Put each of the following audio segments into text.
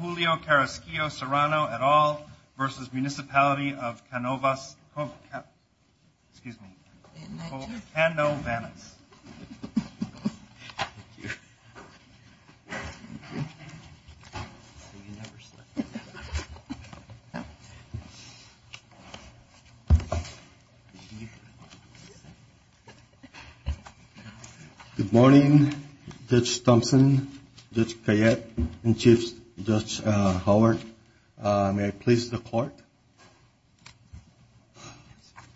Julio Carasquillo-Serrano, et al. v. Municipality of Canovas, excuse me, Cano-Vanas. Good morning, Judge Thompson, Judge Kayette, and Chief Judge Howard. May I please the court?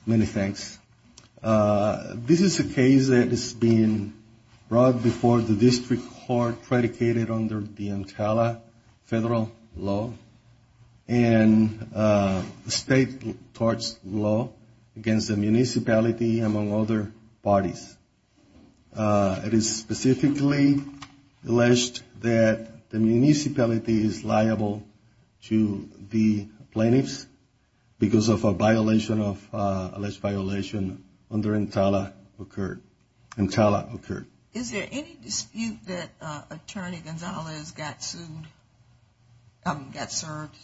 Many thanks. This is a case that has been brought before the district court predicated under the Antala federal law and state courts law against the municipality among other parties. It is specifically alleged that the municipality is liable to the plaintiffs because of a violation of, alleged violation under Antala occurred. Is there any dispute that Attorney Gonzalez got sued, got served?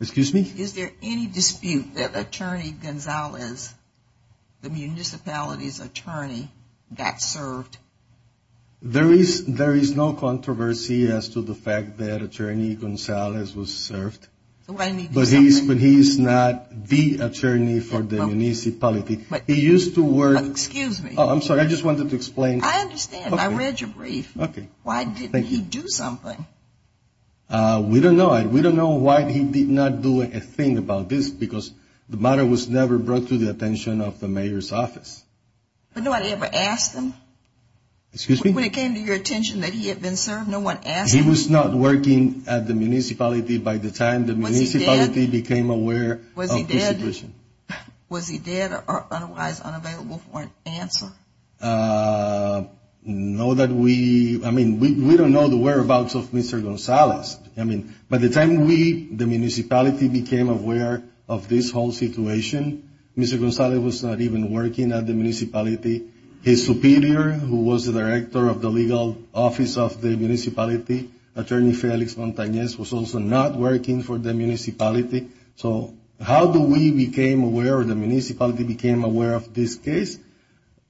Excuse me? Is there any dispute that Attorney Gonzalez, the municipality's attorney, got served? There is no controversy as to the fact that Attorney Gonzalez was served, but he's not the attorney for the municipality. He used to work. Excuse me? I'm sorry, I just wanted to explain. I understand. I read your brief. Okay. Why didn't he do something? We don't know. We don't know why he did not do a thing about this because the matter was never brought to the attention of the mayor's office. But nobody ever asked him? Excuse me? When it came to your attention that he had been served, no one asked him? He was not working at the municipality by the time the municipality became aware of his situation. Was he dead or otherwise unavailable for an answer? No, that we, I mean, we don't know the whereabouts of Mr. Gonzalez. I mean, by the time we, the municipality, became aware of this whole situation, Mr. Gonzalez was not even working at the municipality. His superior, who was the director of the legal office of the municipality, Attorney Felix Montañez, was also not working for the municipality. So how do we became aware or the municipality became aware of this case?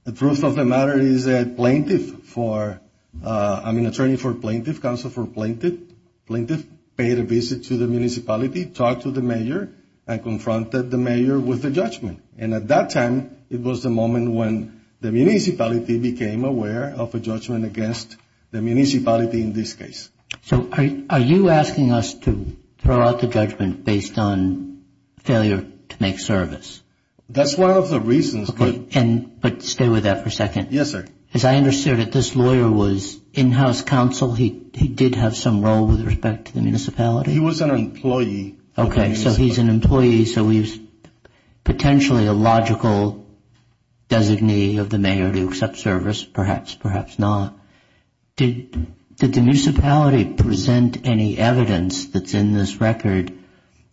The truth of the matter is that plaintiff for, I mean, attorney for plaintiff, counsel for plaintiff, plaintiff paid a visit to the municipality, talked to the mayor, and confronted the mayor with a judgment. And at that time, it was the moment when the municipality became aware of a judgment against the municipality in this case. So are you asking us to throw out the judgment based on failure to make service? That's one of the reasons. But stay with that for a second. Yes, sir. As I understand it, this lawyer was in-house counsel. He did have some role with respect to the municipality. He was an employee. Okay. So he's an employee. So he's potentially a logical designee of the mayor to accept service, perhaps, perhaps not. Did the municipality present any evidence that's in this record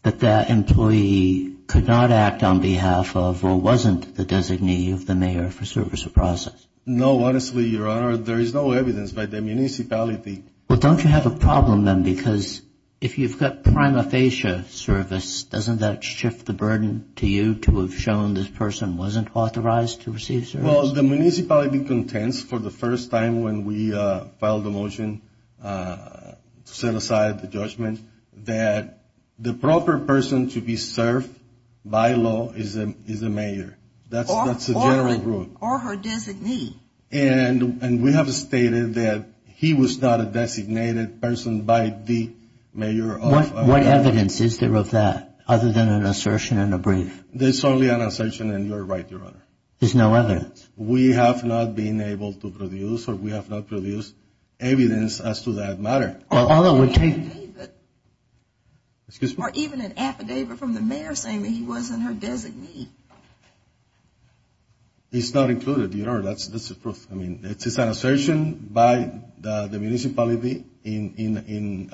that that employee could not act on behalf of or wasn't the designee of the mayor for service or process? No. Honestly, Your Honor, there is no evidence by the municipality. Well, don't you have a problem then? Because if you've got prima facie service, doesn't that shift the burden to you to have shown this person wasn't authorized to receive service? Well, the municipality contends for the first time when we filed a motion to set aside the judgment that the proper person to be served by law is the mayor. That's the general rule. Or her designee. And we have stated that he was not a designated person by the mayor of our county. What evidence is there of that other than an assertion and a brief? There's only an assertion, and you're right, Your Honor. There's no evidence. We have not been able to produce or we have not produced evidence as to that matter. Or even an affidavit from the mayor saying that he wasn't her designee. It's not included, Your Honor. That's the truth. I mean, it's an assertion by the municipality in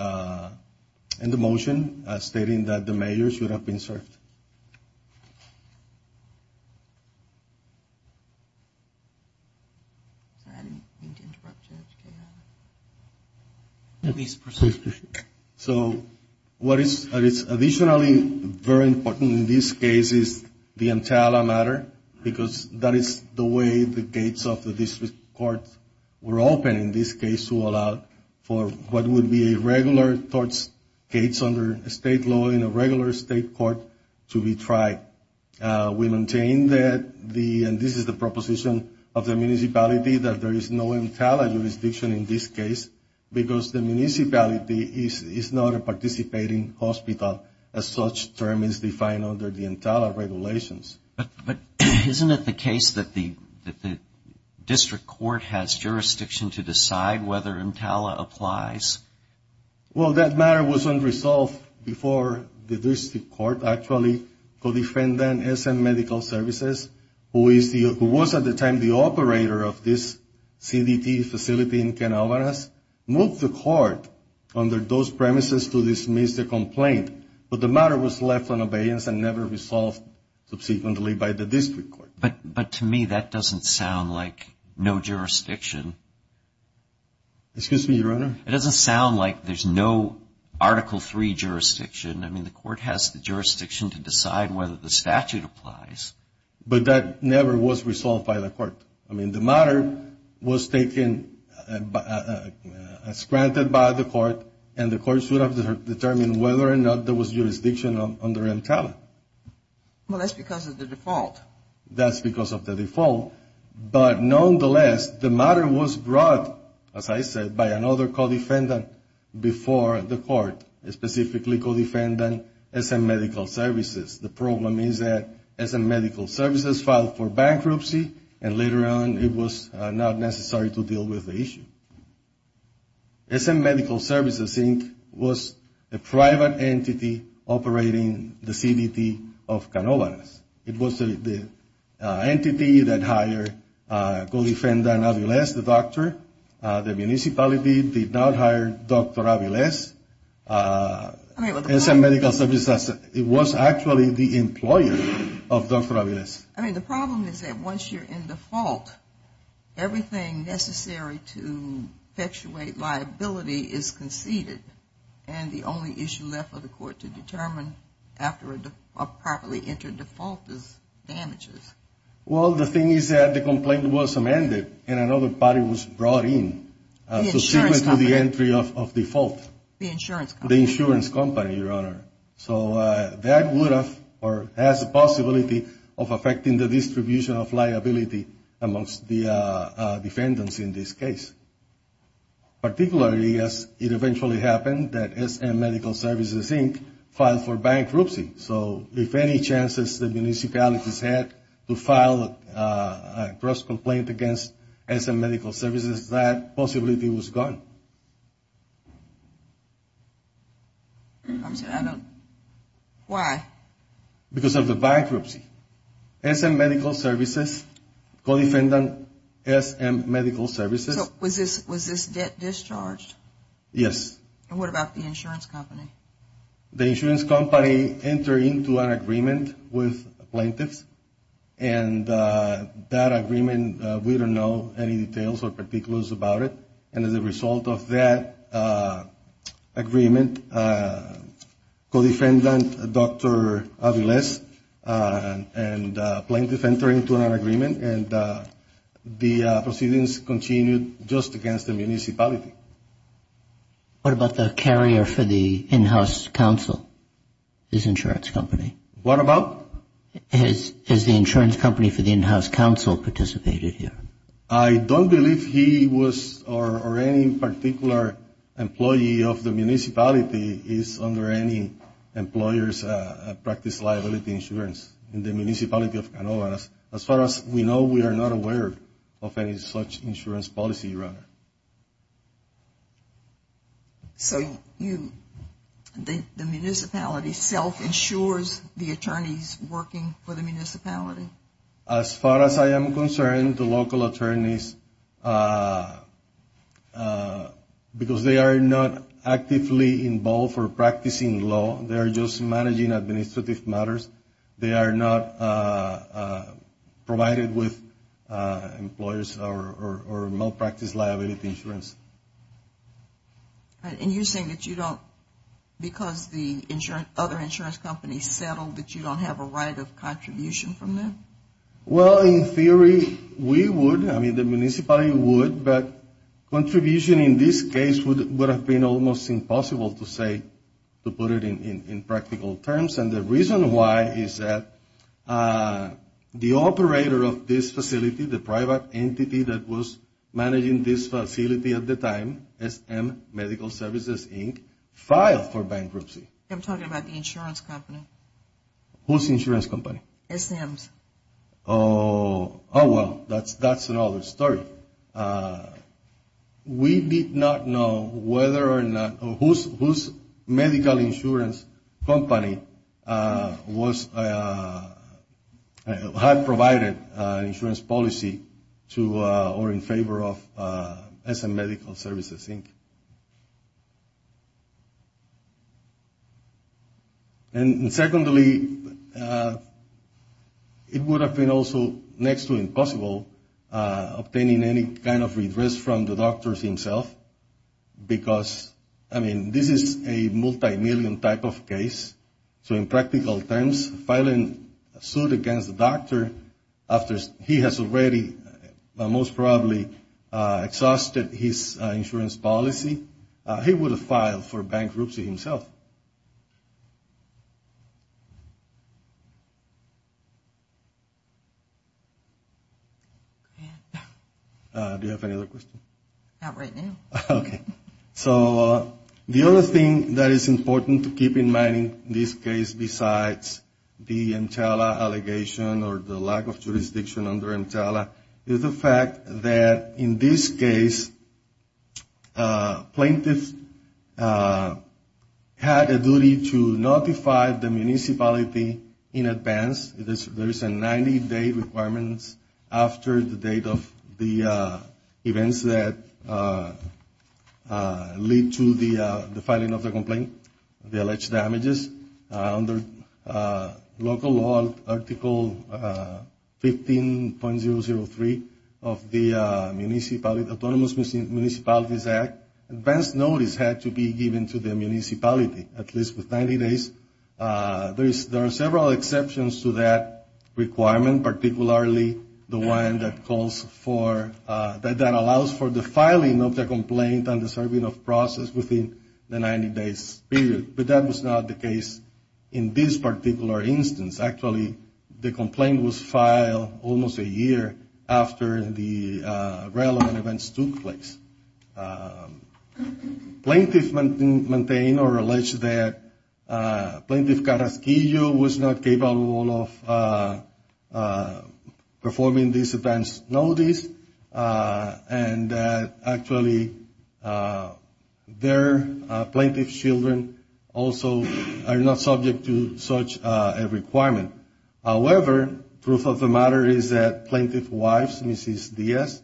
the motion stating that the mayor should have been served. Sorry, I didn't mean to interrupt you, Your Honor. At least proceed. So what is additionally very important in this case is the Entala matter because that is the way the gates of the district courts were open in this case to allow for what would be a regular court's gates under state law in a regular state court to be tried. We maintain that the, and this is the proposition of the municipality, that there is no Entala jurisdiction in this case because the municipality is not a participating hospital, as such term is defined under the Entala regulations. But isn't it the case that the district court has jurisdiction to decide whether Entala applies? Well, that matter was unresolved before the district court actually co-defendant SM Medical Services, who was at the time the operator of this CDT facility in Ken Alvarez, moved the court under those premises to dismiss the complaint. But the matter was left on abeyance and never resolved subsequently by the district court. But to me, that doesn't sound like no jurisdiction. Excuse me, Your Honor? It doesn't sound like there's no Article III jurisdiction. I mean, the court has the jurisdiction to decide whether the statute applies. But that never was resolved by the court. I mean, the matter was taken as granted by the court, and the court should have determined whether or not there was jurisdiction under Entala. Well, that's because of the default. That's because of the default. But nonetheless, the matter was brought, as I said, by another co-defendant before the court, specifically co-defendant SM Medical Services. The problem is that SM Medical Services filed for bankruptcy, and later on it was not necessary to deal with the issue. SM Medical Services Inc. was a private entity operating the CDT of Ken Alvarez. It was the entity that hired co-defendant Aviles, the doctor. The municipality did not hire Dr. Aviles. SM Medical Services was actually the employer of Dr. Aviles. I mean, the problem is that once you're in default, everything necessary to effectuate liability is conceded, and the only issue left for the court to determine after a properly entered default is damages. Well, the thing is that the complaint was amended, and another party was brought in. The insurance company. Subsequent to the entry of default. The insurance company. The insurance company, Your Honor. So that would have or has a possibility of affecting the distribution of liability amongst the defendants in this case, particularly as it eventually happened that SM Medical Services Inc. filed for bankruptcy. So if any chances the municipalities had to file a gross complaint against SM Medical Services, that possibility was gone. Why? Because of the bankruptcy. SM Medical Services, co-defendant SM Medical Services. So was this debt discharged? Yes. And what about the insurance company? The insurance company entered into an agreement with plaintiffs, and that agreement, we don't know any details or particulars about it. And as a result of that agreement, co-defendant Dr. Aviles and plaintiffs entered into an agreement, and the proceedings continued just against the municipality. What about the carrier for the in-house counsel, his insurance company? What about? Has the insurance company for the in-house counsel participated here? I don't believe he was or any particular employee of the municipality is under any employer's practice liability insurance in the municipality of Canova. As far as we know, we are not aware of any such insurance policy, Your Honor. So you think the municipality self-insures the attorneys working for the municipality? As far as I am concerned, the local attorneys, because they are not actively involved or practicing law, they are just managing administrative matters, they are not provided with employers or malpractice liability insurance. And you're saying that you don't, because the other insurance companies settled, that you don't have a right of contribution from them? Well, in theory, we would. I mean, the municipality would, but contribution in this case would have been almost impossible to say, to put it in practical terms, and the reason why is that the operator of this facility, the private entity that was managing this facility at the time, SM Medical Services, Inc., filed for bankruptcy. I'm talking about the insurance company. Whose insurance company? SM's. Oh, well, that's another story. We did not know whether or not, whose medical insurance company was, had provided insurance policy to or in favor of SM Medical Services, Inc. And secondly, it would have been also next to impossible obtaining any kind of redress from the doctor himself, because, I mean, this is a multimillion type of case. So in practical terms, filing a suit against the doctor after he has already most probably exhausted his insurance policy, he would have filed for bankruptcy himself. Do you have any other questions? Not right now. Okay. So the other thing that is important to keep in mind in this case besides the EMTALA allegation or the lack of jurisdiction under EMTALA is the fact that in this case, plaintiffs had a duty to notify the municipality in advance. There is a 90-day requirement after the date of the events that lead to the filing of the complaint, the alleged damages. Under local law, Article 15.003 of the Autonomous Municipalities Act, advance notice had to be given to the municipality at least with 90 days. There are several exceptions to that requirement, particularly the one that calls for, that allows for the filing of the complaint and the serving of process within the 90-day period. But that was not the case in this particular instance. Actually, the complaint was filed almost a year after the relevant events took place. Plaintiffs maintain or allege that Plaintiff Carrasquillo was not capable of performing this advance notice and that actually their plaintiff's children also are not subject to such a requirement. However, truth of the matter is that plaintiff's wife, Mrs. Diaz,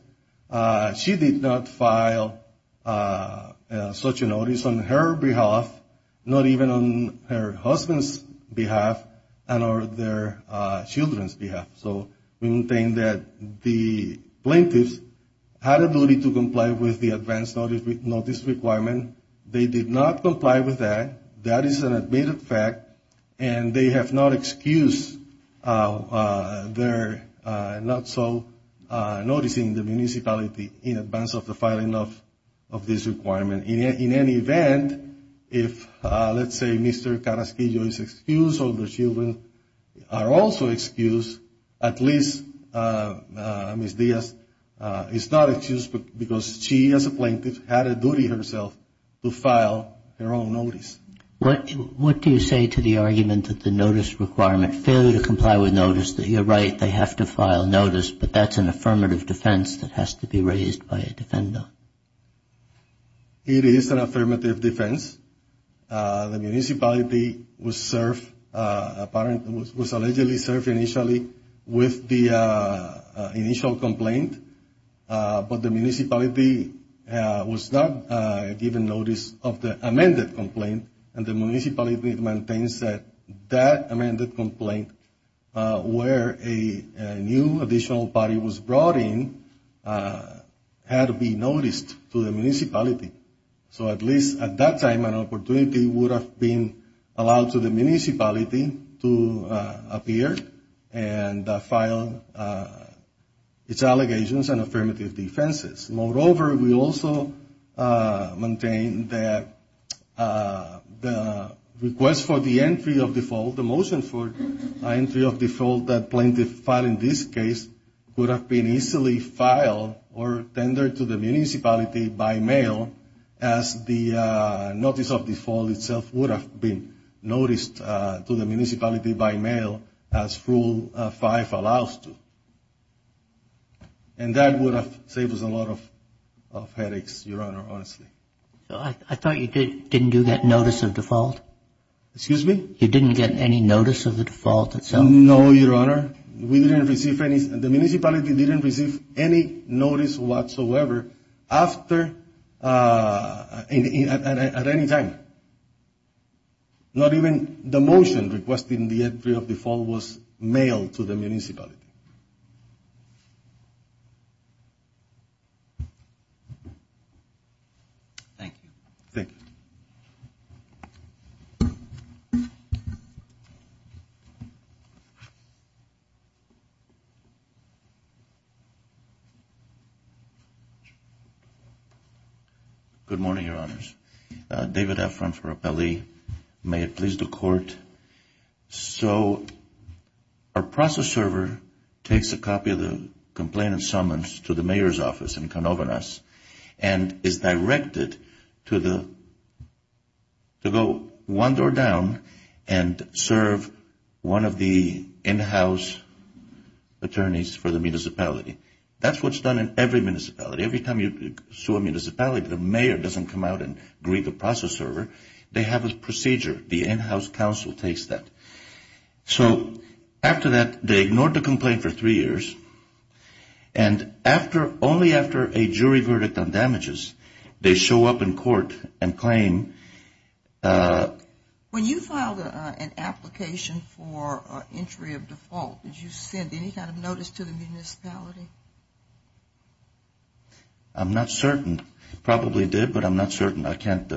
she did not file such a notice on her behalf, not even on her husband's behalf and on their children's behalf. So we maintain that the plaintiffs had a duty to comply with the advance notice requirement. They did not comply with that. That is an admitted fact and they have not excused their not so noticing the municipality in advance of the filing of this requirement. In any event, if let's say Mr. Carrasquillo is excused or the children are also excused, at least Mrs. Diaz is not excused because she as a plaintiff had a duty herself to file her own notice. What do you say to the argument that the notice requirement, failure to comply with notice, that you're right, they have to file notice, but that's an affirmative defense that has to be raised by a defender? It is an affirmative defense. The municipality was allegedly served initially with the initial complaint, but the municipality was not given notice of the amended complaint and the municipality maintains that that amended complaint, where a new additional body was brought in, had to be noticed to the municipality. So at least at that time an opportunity would have been allowed to the municipality to appear and file its allegations and affirmative defenses. Moreover, we also maintain that the request for the entry of default, the motion for entry of default, that plaintiff filed in this case would have been easily filed or tendered to the municipality by mail as the notice of default itself would have been noticed to the municipality by mail as Rule 5 allows to. And that would have saved us a lot of headaches, Your Honor, honestly. I thought you didn't do that notice of default? Excuse me? You didn't get any notice of the default itself? No, Your Honor. We didn't receive any. The municipality didn't receive any notice whatsoever after, at any time. Not even the motion requesting the entry of default was mailed to the municipality. Thank you. Thank you. Good morning, Your Honors. David Efron for Appellee. May it please the Court. So our process server takes a copy of the complainant's summons to the mayor's office in Canovanas and is directed to go one door down and serve one of the in-house attorneys for the municipality. That's what's done in every municipality. Every time you sue a municipality, the mayor doesn't come out and greet the process server. They have a procedure. The in-house counsel takes that. So after that, they ignored the complaint for three years. And only after a jury verdict on damages, they show up in court and claim. When you filed an application for entry of default, did you send any kind of notice to the municipality? I'm not certain. Probably did, but I'm not certain. I can't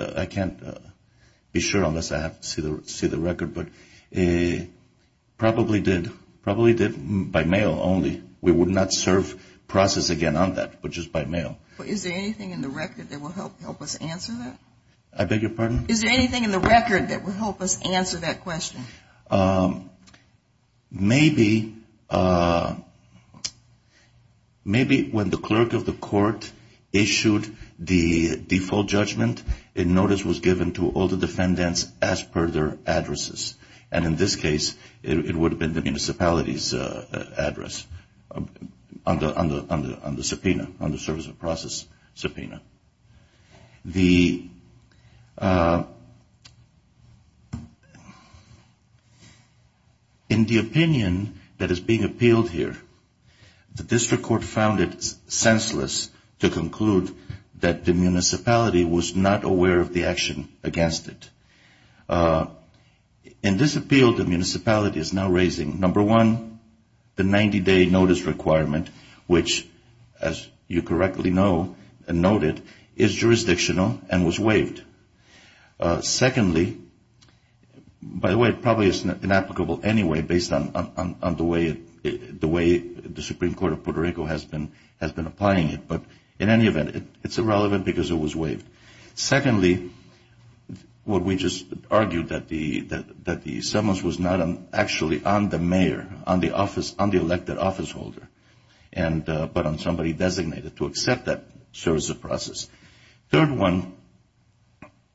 be sure unless I have to see the record, but probably did. Probably did by mail only. We would not serve process again on that, but just by mail. Is there anything in the record that will help us answer that? I beg your pardon? Is there anything in the record that will help us answer that question? Maybe when the clerk of the court issued the default judgment, a notice was given to all the defendants as per their addresses. And in this case, it would have been the municipality's address on the subpoena, on the service of process subpoena. In the opinion that is being appealed here, the district court found it senseless to conclude that the municipality was not aware of the action against it. In this appeal, the municipality is now raising, number one, the 90-day notice requirement, which, as you correctly know and noted, is jurisdictional and was waived. Secondly, by the way, it probably is inapplicable anyway based on the way the Supreme Court of Puerto Rico has been applying it. But in any event, it's irrelevant because it was waived. Secondly, what we just argued, that the summons was not actually on the mayor, on the office, on the elected office holder, but on somebody designated to accept that service of process. Third one,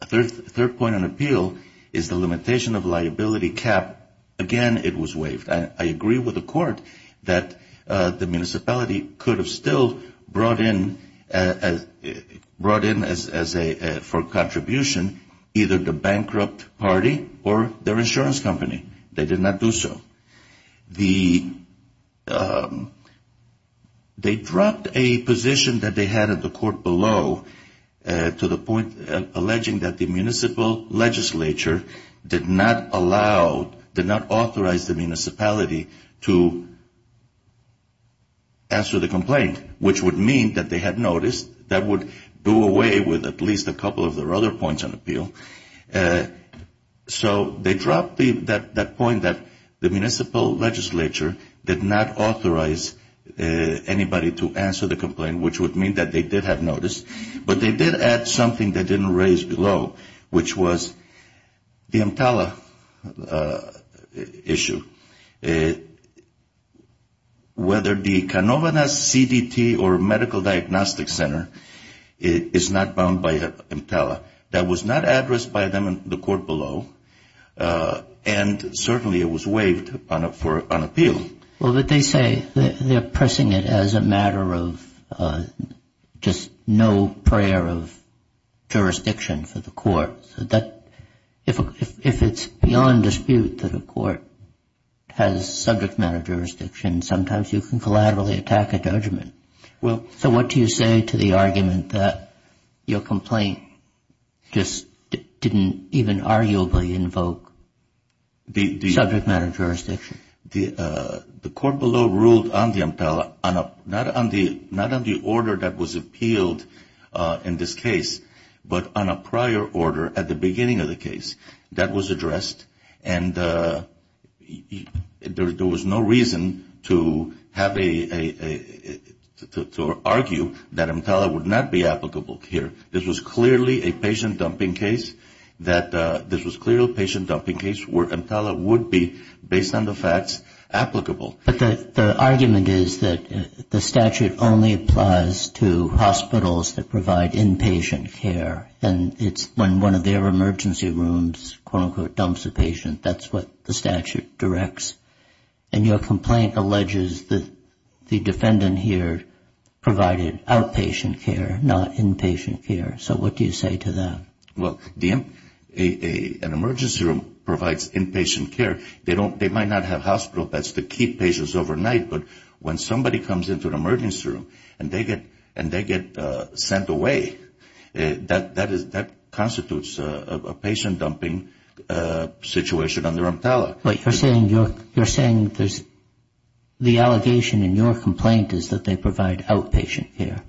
third point on appeal is the limitation of liability cap. Again, it was waived. I agree with the court that the municipality could have still brought in for contribution either the bankrupt party or their insurance company. They did not do so. They dropped a position that they had at the court below to the point alleging that the municipal legislature did not allow, did not authorize the municipality to answer the complaint, which would mean that they had noticed. That would do away with at least a couple of their other points on appeal. So they dropped that point that the municipal legislature did not authorize anybody to answer the complaint, which would mean that they did have noticed. But they did add something they didn't raise below, which was the EMTALA issue. Whether the Canovas CDT or medical diagnostic center is not bound by EMTALA. That was not addressed by them in the court below, and certainly it was waived on appeal. Well, but they say they're pressing it as a matter of just no prayer of jurisdiction for the court. If it's beyond dispute that a court has subject matter jurisdiction, sometimes you can collaterally attack a judgment. So what do you say to the argument that your complaint just didn't even arguably invoke subject matter jurisdiction? The court below ruled on the EMTALA, not on the order that was appealed in this case, but on a prior order at the beginning of the case that was addressed, and there was no reason to argue that EMTALA would not be applicable here. This was clearly a patient dumping case where EMTALA would be, based on the facts, applicable. But the argument is that the statute only applies to hospitals that provide inpatient care, and it's when one of their emergency rooms, quote, unquote, dumps a patient, that's what the statute directs. And your complaint alleges that the defendant here provided outpatient care, not inpatient care. So what do you say to that? Well, an emergency room provides inpatient care. They might not have hospital beds to keep patients overnight, but when somebody comes into an emergency room and they get sent away, that constitutes a patient dumping situation under EMTALA. But you're saying there's the allegation in your complaint is that they provide outpatient care.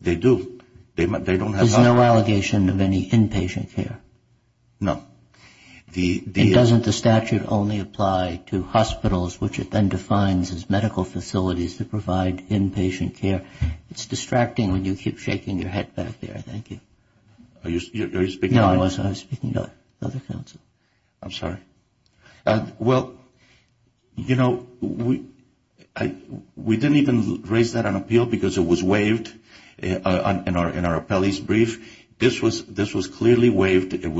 They do. There's no allegation of any inpatient care? No. It doesn't the statute only apply to hospitals, which it then defines as medical facilities that provide inpatient care? It's distracting when you keep shaking your head back there. Thank you. Are you speaking to me? No, I was speaking to the other counsel. I'm sorry. Well, you know, we didn't even raise that on appeal because it was waived in our appellee's brief. This was clearly waived. It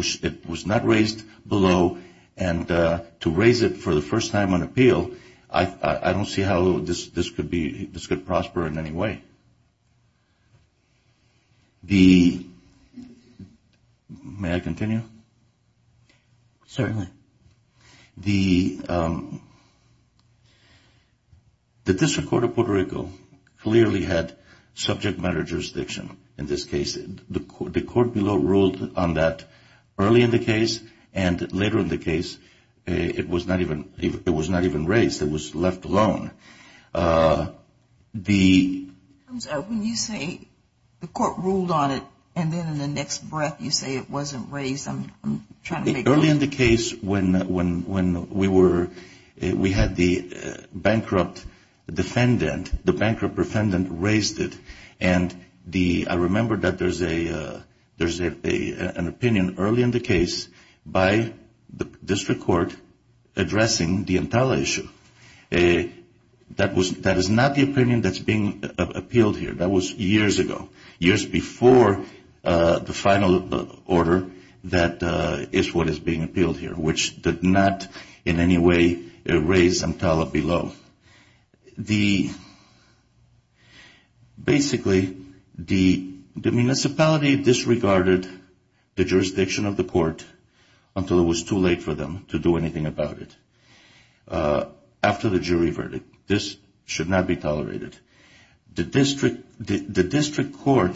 was not raised below. And to raise it for the first time on appeal, I don't see how this could prosper in any way. May I continue? Certainly. The District Court of Puerto Rico clearly had subject matter jurisdiction in this case. The court below ruled on that early in the case, and later in the case, it was not even raised. It was left alone. When you say the court ruled on it, and then in the next breath you say it wasn't raised, I'm trying to make sense. Early in the case, when we had the bankrupt defendant, the bankrupt defendant raised it, and I remember that there's an opinion early in the case by the district court addressing the Entala issue. That is not the opinion that's being appealed here. That was years ago, years before the final order that is what is being appealed here, which did not in any way raise Entala below. Basically, the municipality disregarded the jurisdiction of the court until it was too late for them to do anything about it. After the jury verdict, this should not be tolerated. The district court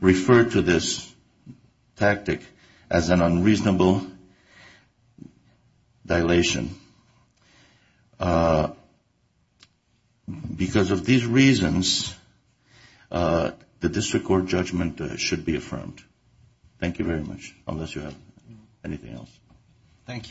referred to this tactic as an unreasonable dilation. Because of these reasons, the district court judgment should be affirmed. Thank you very much, unless you have anything else. Thank you.